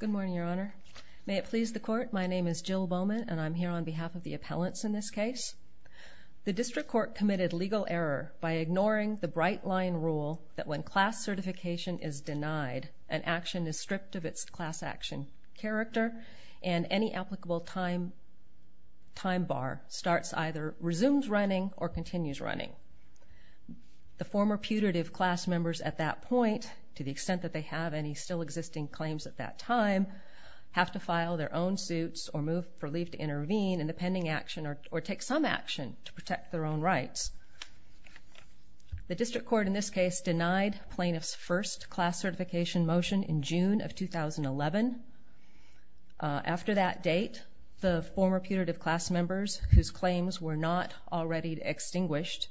Good morning, Your Honor. May it please the Court, my name is Jill Bowman and I'm here on behalf of the appellants in this case. The District Court committed legal error by ignoring the bright line rule that when class certification is denied, an action is stripped of its class action character and any applicable time bar starts either resumes running or can't, to the extent that they have any still existing claims at that time, have to file their own suits or move for leave to intervene in the pending action or take some action to protect their own rights. The District Court in this case denied plaintiffs' first class certification motion in June of 2011. After that date, the former putative class members, whose claims were not already extinguished,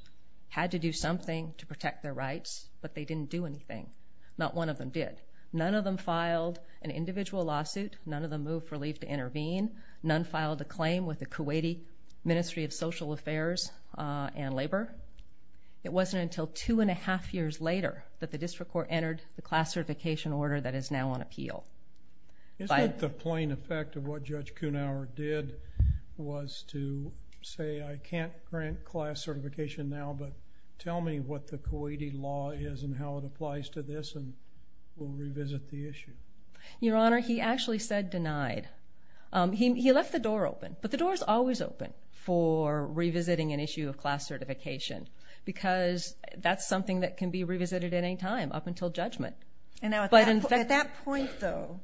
had to do something to protect their rights, but they didn't do anything. Not one of them did. None of them filed an individual lawsuit. None of them moved for leave to intervene. None filed a claim with the Kuwaiti Ministry of Social Affairs and Labor. It wasn't until two and a half years later that the District Court entered the class certification order that is now on appeal. Is that the plain effect of what Judge Kuhnhauer did was to say, I can't grant class certification now, but tell me what the Kuwaiti law is and how it applies to this and we'll revisit the issue. Your Honor, he actually said denied. He left the door open, but the door is always open for revisiting an issue of class certification because that's something that can be revisited at any time up until judgment. At that point, though,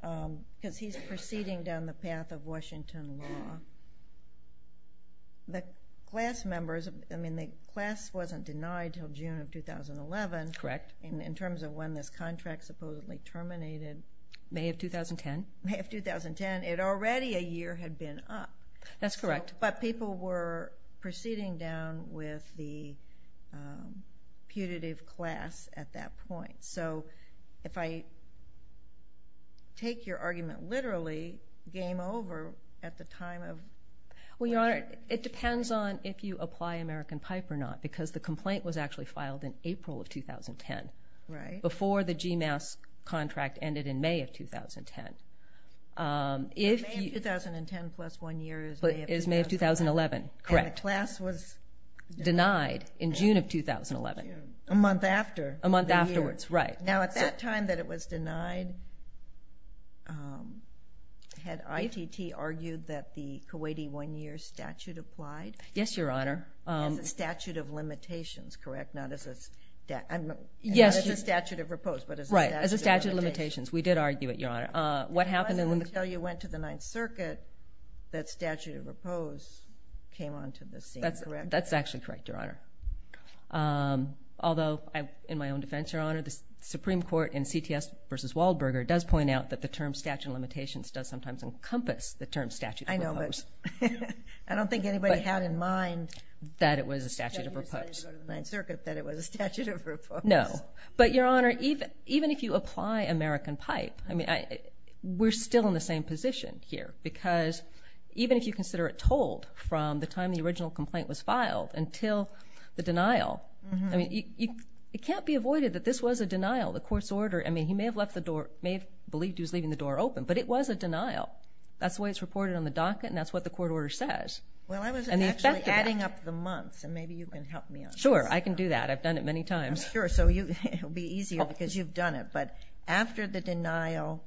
because he's proceeding down the path of Washington law, the class wasn't denied until June of 2011 in terms of when this contract supposedly terminated. May of 2010. May of 2010. It already a year had been up. That's correct. But people were proceeding down with the putative class at that point. So if I take your argument literally, game over at the time of... Well, Your Honor, it depends on if you apply American Pipe or not because the complaint was actually filed in April of 2010 before the GMAS contract ended in May of 2010. May of 2010 plus one year is May of 2011. Correct. And the class was... Denied in June of 2011. A month after. A month afterwards, right. Now, at that time that it was denied, had ITT argued that the Kuwaiti one-year statute applied? Yes, Your Honor. As a statute of limitations, correct? Not as a statute of repose, but as a statute of limitations. Right, as a statute of limitations. We did argue it, Your Honor. What happened in... Until you went to the Ninth Circuit, that statute of repose came onto the scene, correct? That's actually correct, Your Honor. Although, in my own defense, Your Honor, the Supreme Court in CTS v. Waldberger does point out that the term statute of limitations does sometimes encompass the term statute of repose. I know, but I don't think anybody had in mind... That it was a statute of repose. ...that you decided to go to the Ninth Circuit that it was a statute of repose. No, but Your Honor, even if you apply American Pipe, we're still in the same position here because even if you consider it told from the time the original complaint was filed until the denial, I mean, it can't be avoided that this was a denial, the court's order. I mean, he may have believed he was leaving the door open, but it was a denial. That's the way it's reported on the docket, and that's what the court order says. Well, I was actually adding up the months, and maybe you can help me on that. Sure, I can do that. I've done it many times. Sure, so it'll be easier because you've done it. But after the denial,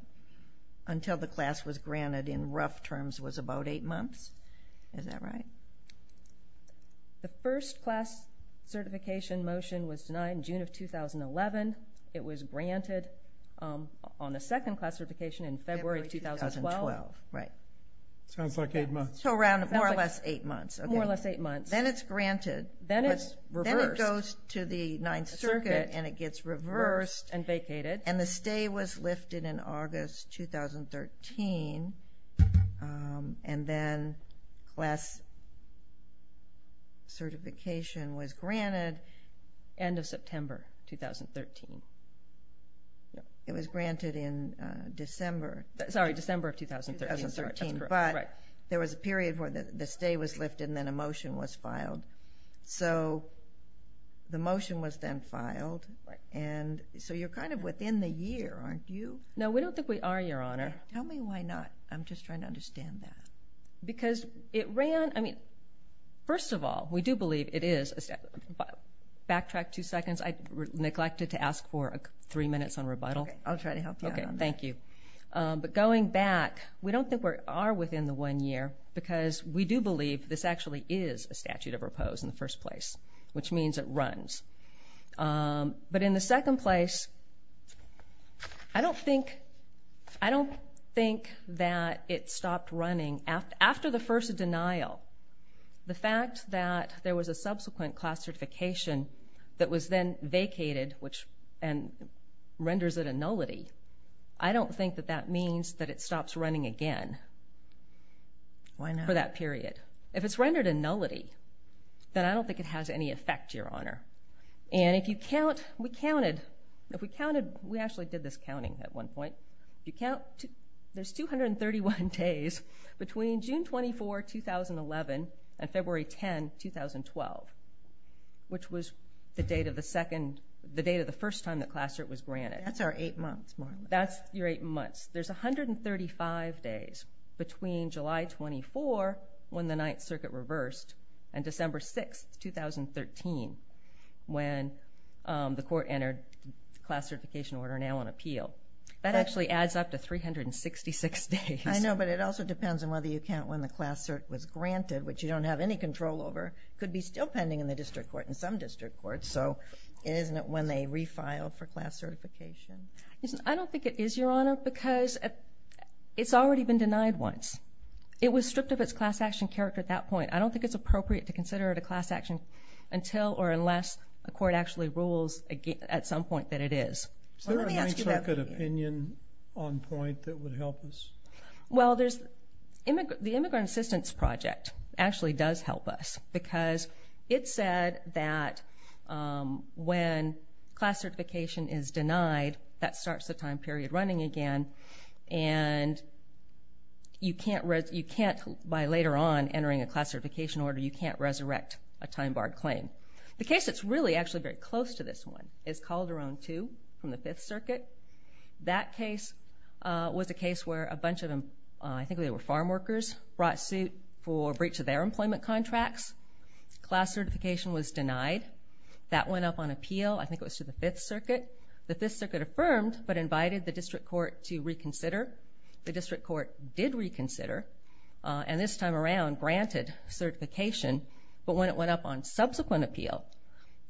until the class was granted in rough terms, was about 8 months. Is that right? The first class certification motion was denied in June of 2011. It was granted on the second class certification in February of 2012. Right. Sounds like 8 months. So around more or less 8 months. Then it's granted. Then it's reversed. It goes to the Ninth Circuit, and it gets reversed. And vacated. And the stay was lifted in August 2013, and then class certification was granted. End of September 2013. It was granted in December. Sorry, December of 2013. But there was a period where the stay was lifted, and then a motion was filed. So the motion was then filed, and so you're kind of within the year, aren't you? No, we don't think we are, Your Honor. Tell me why not. I'm just trying to understand that. Because it ran. I mean, first of all, we do believe it is. Backtrack two seconds. I neglected to ask for three minutes on rebuttal. Okay, I'll try to help you out on that. Okay, thank you. But going back, we don't think we are within the one year, because we do believe this actually is a statute of repose in the first place, which means it runs. But in the second place, I don't think that it stopped running. After the first denial, the fact that there was a subsequent class certification that was then vacated and renders it a nullity, I don't think that that means that it stops running again. Why not? For that period. If it's rendered a nullity, then I don't think it has any effect, Your Honor. And if you count, we counted. If we counted, we actually did this counting at one point. If you count, there's 231 days between June 24, 2011, and February 10, 2012, which was the date of the first time that class cert was granted. That's our eight months, Marla. That's your eight months. There's 135 days between July 24, when the Ninth Circuit reversed, and December 6, 2013, when the court entered class certification order, now on appeal. That actually adds up to 366 days. I know, but it also depends on whether you count when the class cert was granted, which you don't have any control over. It could be still pending in the district court, in some district courts, and so isn't it when they refile for class certification? I don't think it is, Your Honor, because it's already been denied once. It was stripped of its class action character at that point. I don't think it's appropriate to consider it a class action until or unless a court actually rules at some point that it is. Is there a Ninth Circuit opinion on point that would help us? Well, the Immigrant Assistance Project actually does help us because it said that when class certification is denied, that starts the time period running again, and by later on entering a class certification order, you can't resurrect a time-barred claim. The case that's really actually very close to this one is Calderon 2 from the Fifth Circuit. That case was a case where a bunch of them, I think they were farm workers, brought suit for breach of their employment contracts. Class certification was denied. That went up on appeal. I think it was to the Fifth Circuit. The Fifth Circuit affirmed but invited the district court to reconsider. The district court did reconsider and this time around granted certification, but when it went up on subsequent appeal,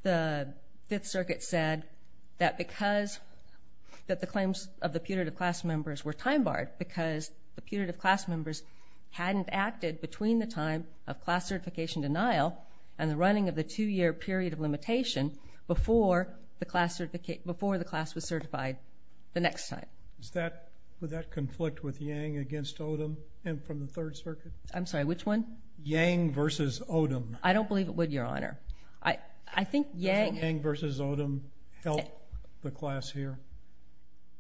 the Fifth Circuit said that because the claims of the putative class members were time-barred because the putative class members hadn't acted between the time of class certification denial and the running of the two-year period of limitation before the class was certified the next time. Would that conflict with Yang against Odom from the Third Circuit? I'm sorry, which one? Yang versus Odom. I don't believe it would, Your Honor. I think Yang versus Odom helped the class here.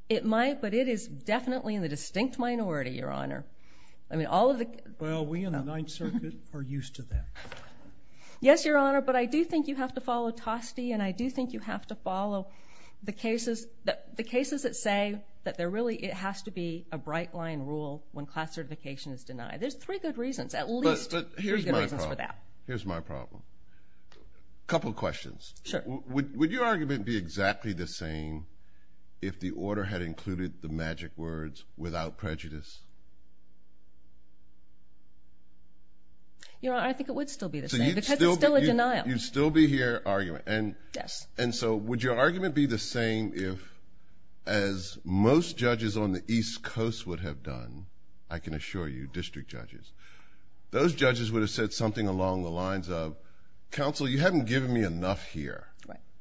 It might, but it is definitely in the distinct minority, Your Honor. Well, we in the Ninth Circuit are used to that. Yes, Your Honor, but I do think you have to follow Toste and I do think you have to follow the cases that say that there really has to be a bright line rule when class certification is denied. There's three good reasons, at least three good reasons for that. Here's my problem. A couple of questions. Sure. So would your argument be exactly the same if the order had included the magic words, without prejudice? Your Honor, I think it would still be the same because it's still a denial. You'd still be here arguing. Yes. And so would your argument be the same if, as most judges on the East Coast would have done, I can assure you, district judges, those judges would have said something along the lines of, Counsel, you haven't given me enough here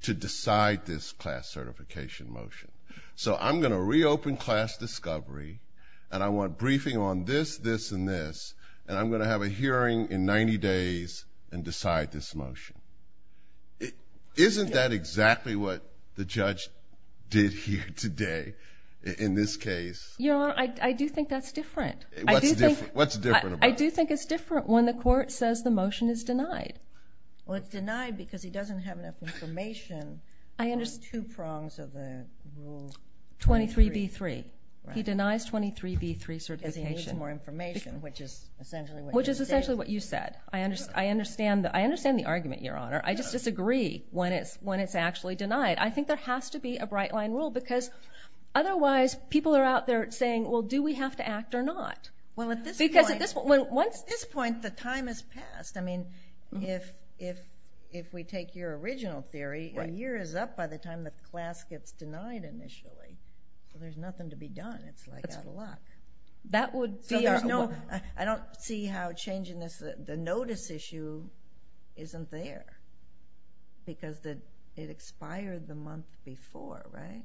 to decide this class certification motion. So I'm going to reopen class discovery and I want briefing on this, this, and this, and I'm going to have a hearing in 90 days and decide this motion. Isn't that exactly what the judge did here today in this case? Your Honor, I do think that's different. What's different about it? I do think it's different when the court says the motion is denied. Well, it's denied because he doesn't have enough information on two prongs of the rule 23B3. He denies 23B3 certification. Because he needs more information, which is essentially what you said. Which is essentially what you said. I understand the argument, Your Honor. I just disagree when it's actually denied. I think there has to be a bright-line rule because otherwise people are out there saying, well, do we have to act or not? Because at this point the time has passed. I mean, if we take your original theory, a year is up by the time the class gets denied initially. So there's nothing to be done. It's like out of luck. I don't see how changing the notice issue isn't there because it expired the month before, right?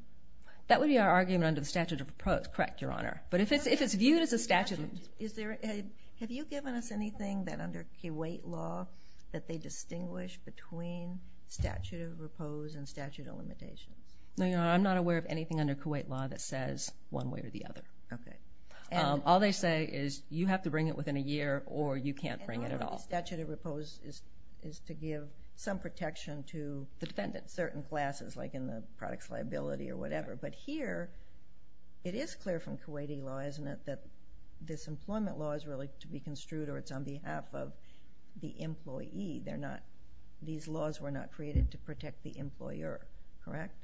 That would be our argument under the statute of pros, correct, Your Honor. But if it's viewed as a statute of limitations. Have you given us anything that under Kuwait law that they distinguish between statute of repose and statute of limitations? No, Your Honor. I'm not aware of anything under Kuwait law that says one way or the other. Okay. All they say is you have to bring it within a year or you can't bring it at all. And part of the statute of repose is to give some protection to certain classes, like in the products liability or whatever. But here it is clear from Kuwaiti law, isn't it, that this employment law is really to be construed or it's on behalf of the employee. These laws were not created to protect the employer, correct?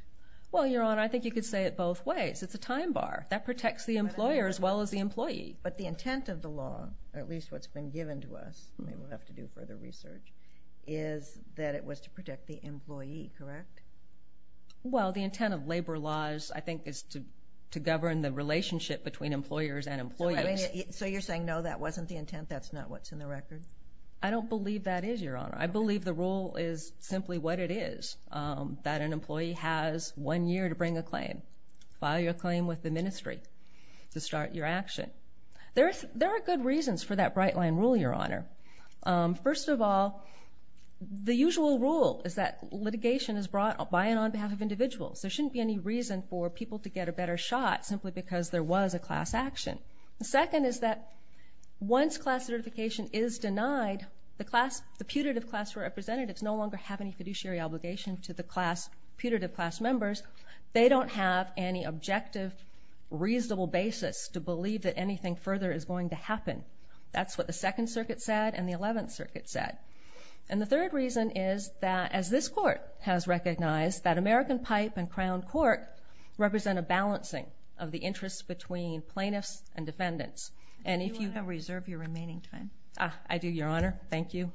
Well, Your Honor, I think you could say it both ways. It's a time bar. That protects the employer as well as the employee. But the intent of the law, at least what's been given to us, and we'll have to do further research, is that it was to protect the employee, correct? Well, the intent of labor laws, I think, is to govern the relationship between employers and employees. So you're saying, no, that wasn't the intent, that's not what's in the record? I don't believe that is, Your Honor. I believe the rule is simply what it is, that an employee has one year to bring a claim. File your claim with the ministry to start your action. There are good reasons for that bright line rule, Your Honor. First of all, the usual rule is that litigation is brought by and on behalf of individuals. There shouldn't be any reason for people to get a better shot simply because there was a class action. The second is that once class certification is denied, the putative class representatives no longer have any fiduciary obligation to the putative class members. They don't have any objective, reasonable basis to believe that anything further is going to happen. That's what the Second Circuit said and the Eleventh Circuit said. And the third reason is that, as this Court has recognized, that American Pipe and Crown Court represent a balancing of the interests between plaintiffs and defendants. Do you want to reserve your remaining time? I do, Your Honor. Thank you.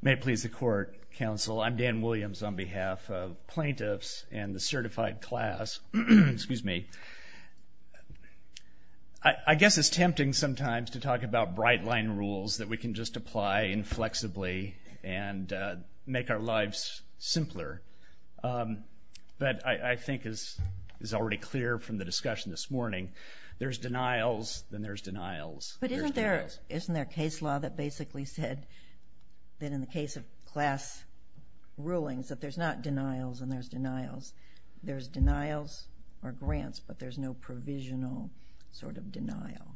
May it please the Court, Counsel. I'm Dan Williams on behalf of plaintiffs and the certified class. Excuse me. I guess it's tempting sometimes to talk about bright line rules that we can just apply inflexibly and make our lives simpler. But I think it's already clear from the discussion this morning, there's denials and there's denials. But isn't there a case law that basically said that in the case of class rulings that there's not denials and there's denials? There's denials or grants, but there's no provisional sort of denial.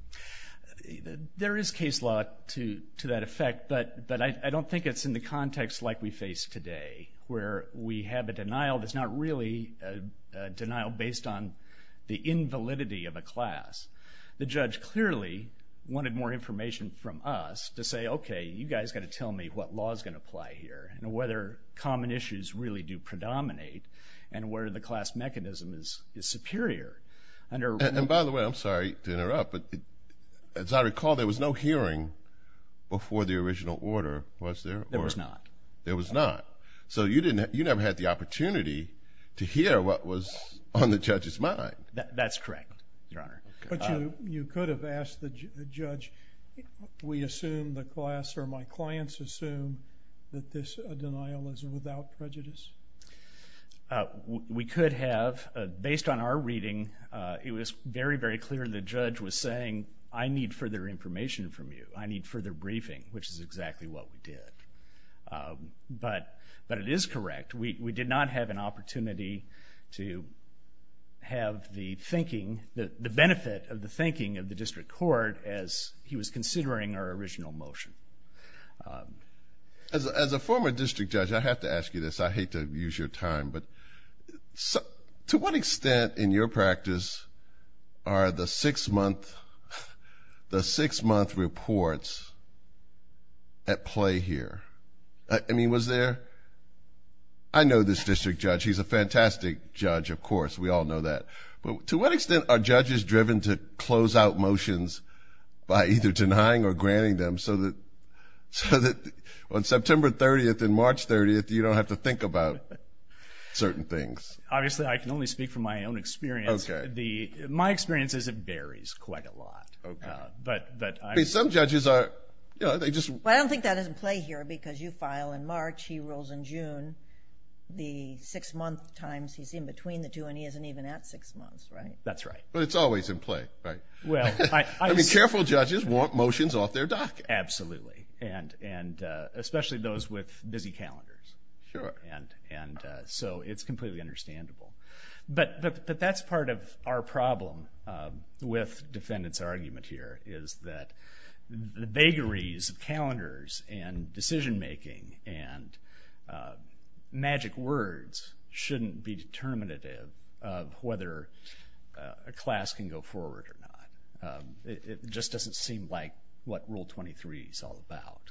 There is case law to that effect, but I don't think it's in the context like we face today, where we have a denial that's not really a denial based on the invalidity of a class. The judge clearly wanted more information from us to say, okay, you guys got to tell me what law is going to apply here and whether common issues really do predominate and where the class mechanism is superior. And by the way, I'm sorry to interrupt, but as I recall, there was no hearing before the original order, was there? There was not. There was not. So you never had the opportunity to hear what was on the judge's mind. That's correct, Your Honor. But you could have asked the judge, we assume the class or my clients assume that this denial is without prejudice? We could have. Based on our reading, it was very, very clear the judge was saying, I need further information from you. I need further briefing, which is exactly what we did. But it is correct. We did not have an opportunity to have the thinking, the benefit of the thinking of the district court as he was considering our original motion. As a former district judge, I have to ask you this. I hate to use your time, but to what extent in your practice are the six-month reports at play here? I mean, was there? I know this district judge. He's a fantastic judge, of course. We all know that. But to what extent are judges driven to close out motions by either denying or granting them so that on September 30th and March 30th, you don't have to think about certain things? Obviously, I can only speak from my own experience. My experience is it varies quite a lot. Some judges are – Well, I don't think that is in play here because you file in March, he rules in June. The six-month times, he's in between the two, and he isn't even at six months, right? That's right. But it's always in play, right? Well, I – I mean, careful judges want motions off their docket. Absolutely, and especially those with busy calendars. Sure. And so it's completely understandable. But that's part of our problem with defendants' argument here, is that the vagaries of calendars and decision-making and magic words shouldn't be determinative of whether a class can go forward or not. It just doesn't seem like what Rule 23 is all about.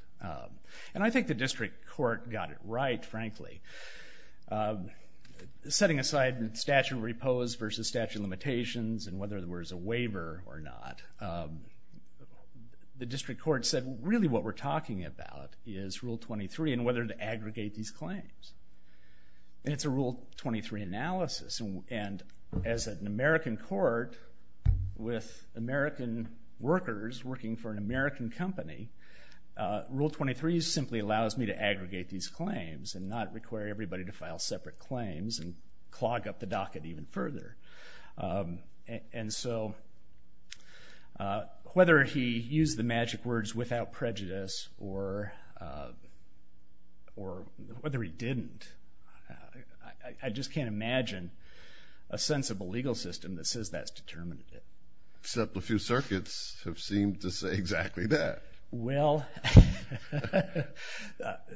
And I think the district court got it right, frankly. Setting aside statute of repose versus statute of limitations and whether there was a waiver or not, the district court said really what we're talking about is Rule 23 and whether to aggregate these claims. And it's a Rule 23 analysis. And as an American court with American workers working for an American company, Rule 23 simply allows me to aggregate these claims and not require everybody to file separate claims and clog up the docket even further. And so whether he used the magic words without prejudice or whether he didn't, I just can't imagine a sensible legal system that says that's determinative. Except a few circuits have seemed to say exactly that. Well,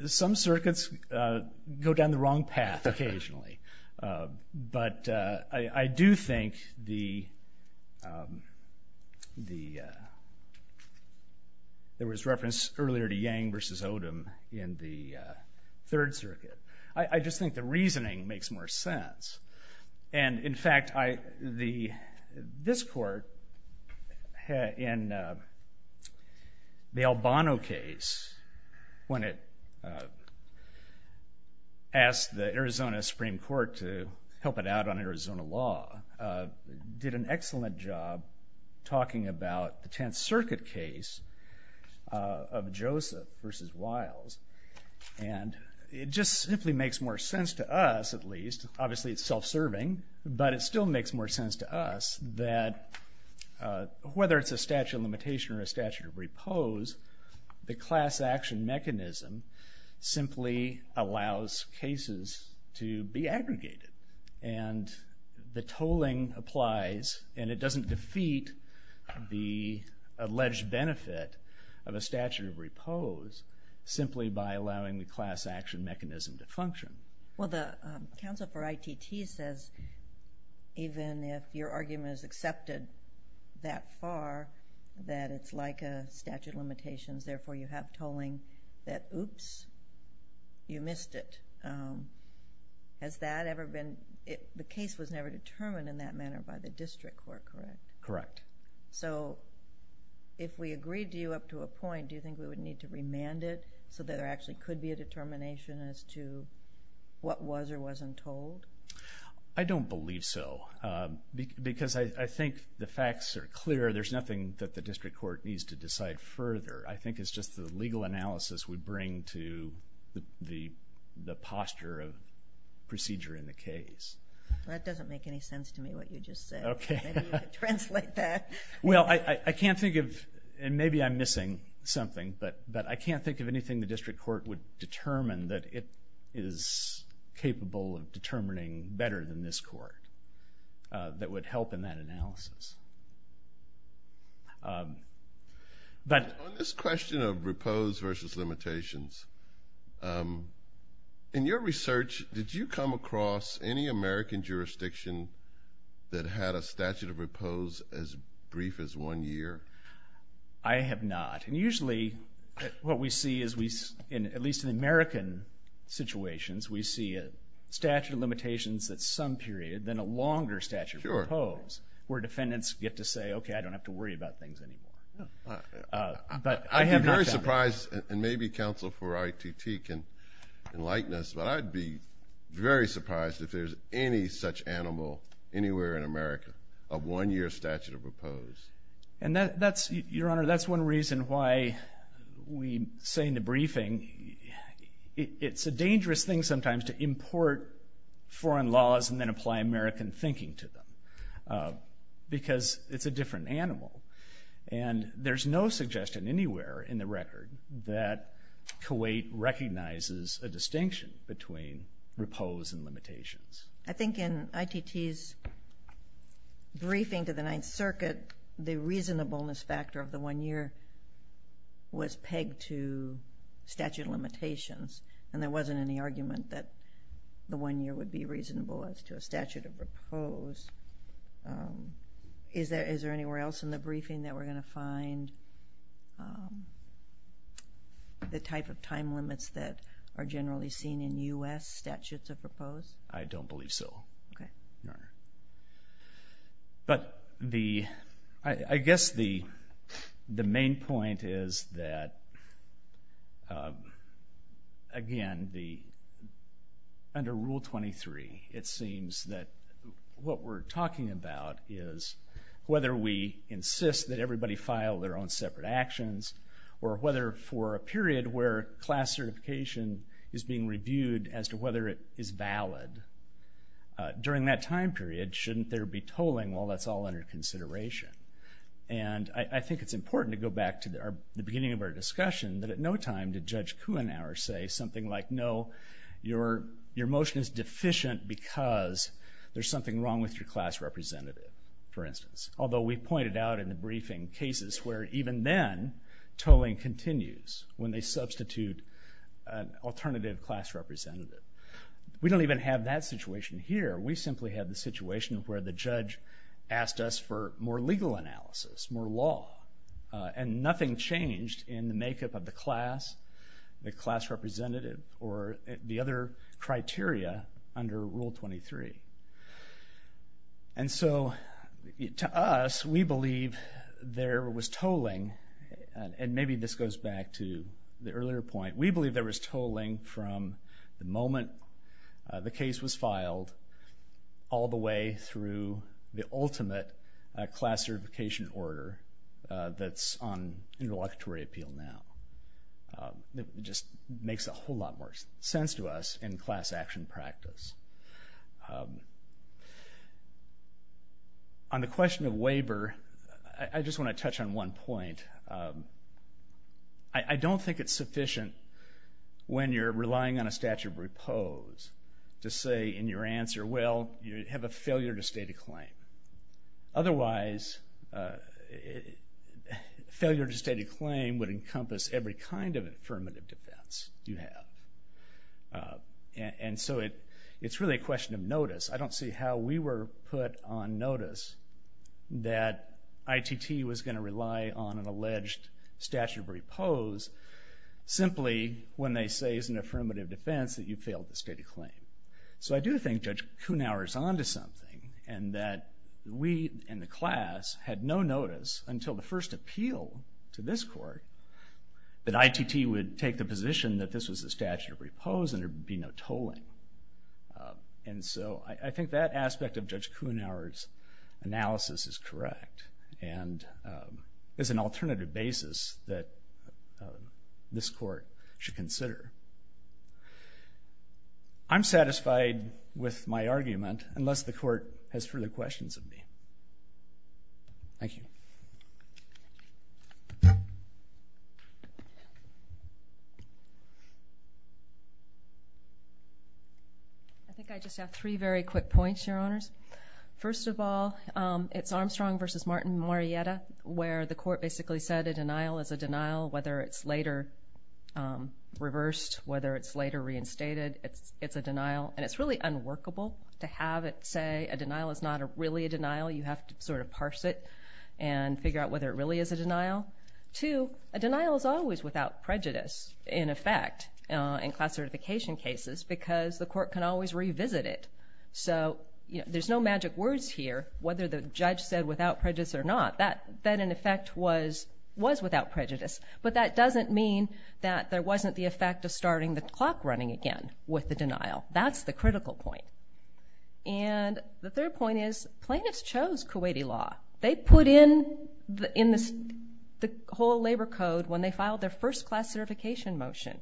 some circuits go down the wrong path occasionally. But I do think there was reference earlier to Yang versus Odom in the Third Circuit. I just think the reasoning makes more sense. And, in fact, this court in the Albano case, when it asked the Arizona Supreme Court to help it out on Arizona law, did an excellent job talking about the Tenth Circuit case of Joseph versus Wiles. And it just simply makes more sense to us, at least. Obviously it's self-serving, but it still makes more sense to us that whether it's a statute of limitation or a statute of repose, the class action mechanism simply allows cases to be aggregated. And the tolling applies, and it doesn't defeat the alleged benefit of a statute of repose simply by allowing the class action mechanism to function. Well, the counsel for ITT says even if your argument is accepted that far, that it's like a statute of limitations, therefore you have tolling that, oops, you missed it. Has that ever been... The case was never determined in that manner by the district court, correct? Correct. So, if we agreed to you up to a point, do you think we would need to remand it so that there actually could be a determination as to what was or wasn't told? I don't believe so, because I think the facts are clear. There's nothing that the district court needs to decide further. I think it's just the legal analysis we bring to the posture of procedure in the case. That doesn't make any sense to me, what you just said. Okay. Maybe you could translate that. Well, I can't think of, and maybe I'm missing something, but I can't think of anything the district court would determine that it is capable of determining better than this court that would help in that analysis. On this question of repose versus limitations, in your research did you come across any American jurisdiction that had a statute of repose as brief as one year? I have not. And usually what we see, at least in American situations, we see a statute of limitations at some period, then a longer statute of repose where defendants get to say, okay, I don't have to worry about things anymore. I'd be very surprised, and maybe counsel for RTT can enlighten us, but I'd be very surprised if there's any such animal anywhere in America of one year statute of repose. Your Honor, that's one reason why we say in the briefing it's a dangerous thing sometimes to import foreign laws and then apply American thinking to them because it's a different animal. And there's no suggestion anywhere in the record that Kuwait recognizes a distinction between repose and limitations. I think in ITT's briefing to the Ninth Circuit, the reasonableness factor of the one year was pegged to statute of limitations, and there wasn't any argument that the one year would be reasonable as to a statute of repose. Is there anywhere else in the briefing that we're going to find the type of time limits that are generally seen in U.S. statutes of repose? I don't believe so, Your Honor. But I guess the main point is that, again, under Rule 23, it seems that what we're talking about is whether we insist that everybody file their own separate actions or whether for a period where class certification is being reviewed as to whether it is valid, during that time period shouldn't there be tolling while that's all under consideration? And I think it's important to go back to the beginning of our discussion that at no time did Judge Kuhnauer say something like, no, your motion is deficient because there's something wrong with your class representative, for instance. Although we pointed out in the briefing cases where even then tolling continues when they substitute an alternative class representative. We don't even have that situation here. We simply have the situation where the judge asked us for more legal analysis, more law, and nothing changed in the makeup of the class, the class representative, or the other criteria under Rule 23. And so to us, we believe there was tolling, and maybe this goes back to the earlier point, we believe there was tolling from the moment the case was filed all the way through the ultimate class certification order that's on interlocutory appeal now. It just makes a whole lot more sense to us in class action practice. On the question of waiver, I just want to touch on one point. I don't think it's sufficient when you're relying on a statute of repose to say in your answer, well, you have a failure to state a claim. Otherwise, failure to state a claim would encompass every kind of affirmative defense you have. And so it's really a question of notice. I don't see how we were put on notice that ITT was going to rely on an alleged statute of repose simply when they say it's an affirmative defense that you failed to state a claim. So I do think Judge Kuhnauer is on to something, and that we in the class had no notice until the first appeal to this court that ITT would take the position that this was a statute of repose and there would be no tolling. And so I think that aspect of Judge Kuhnauer's analysis is correct and is an alternative basis that this court should consider. I'm satisfied with my argument, unless the court has further questions of me. Thank you. I think I just have three very quick points, Your Honors. First of all, it's Armstrong v. Martin Marietta, where the court basically said a denial is a denial, whether it's later reversed, whether it's later reinstated. It's a denial, and it's really unworkable to have it say a denial is not really a denial. You have to sort of parse it and figure out whether it really is a denial. Two, a denial is always without prejudice, in effect, in class certification cases because the court can always revisit it. So there's no magic words here, whether the judge said without prejudice or not. That, in effect, was without prejudice, but that doesn't mean that there wasn't the effect of starting the clock running again with the denial. That's the critical point. The third point is plaintiffs chose Kuwaiti law. They put in the whole labor code when they filed their first class certification motion.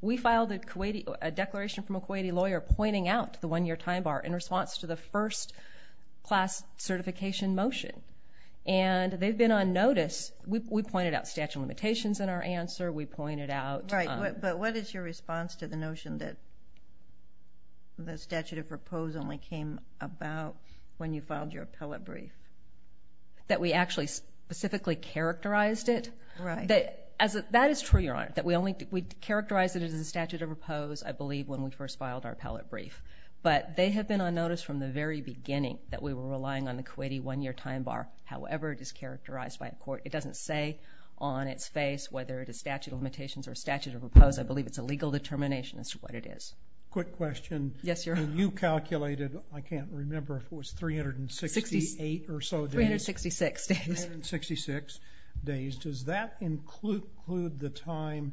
We filed a declaration from a Kuwaiti lawyer pointing out the one-year time bar in response to the first class certification motion, and they've been on notice. We pointed out statute of limitations in our answer. Right, but what is your response to the notion that the statute of repose only came about when you filed your appellate brief? That we actually specifically characterized it? Right. That is true, Your Honor. We characterized it as a statute of repose, I believe, when we first filed our appellate brief, but they have been on notice from the very beginning that we were relying on It doesn't say on its face whether it is statute of limitations or statute of repose. I believe it's a legal determination as to what it is. Quick question. Yes, Your Honor. When you calculated, I can't remember if it was 368 or so days. 366 days. 366 days. Does that include the time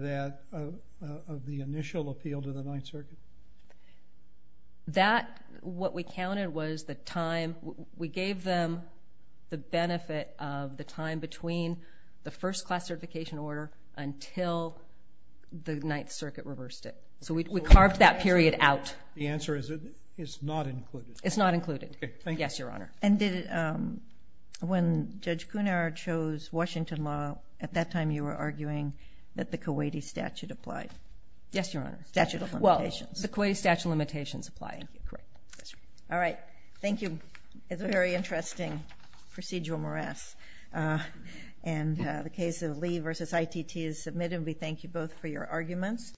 of the initial appeal to the Ninth Circuit? That, what we counted was the time. We gave them the benefit of the time between the first class certification order until the Ninth Circuit reversed it. So we carved that period out. The answer is it's not included. It's not included. Okay, thank you. Yes, Your Honor. And when Judge Kunar chose Washington law, at that time you were arguing that the Kuwaiti statute applied. Yes, Your Honor. Statute of limitations. Well, the Kuwaiti statute of limitations applied. Correct. All right. Thank you. It's a very interesting procedural morass. And the case of Lee v. ITT is submitted. We thank you both for your arguments.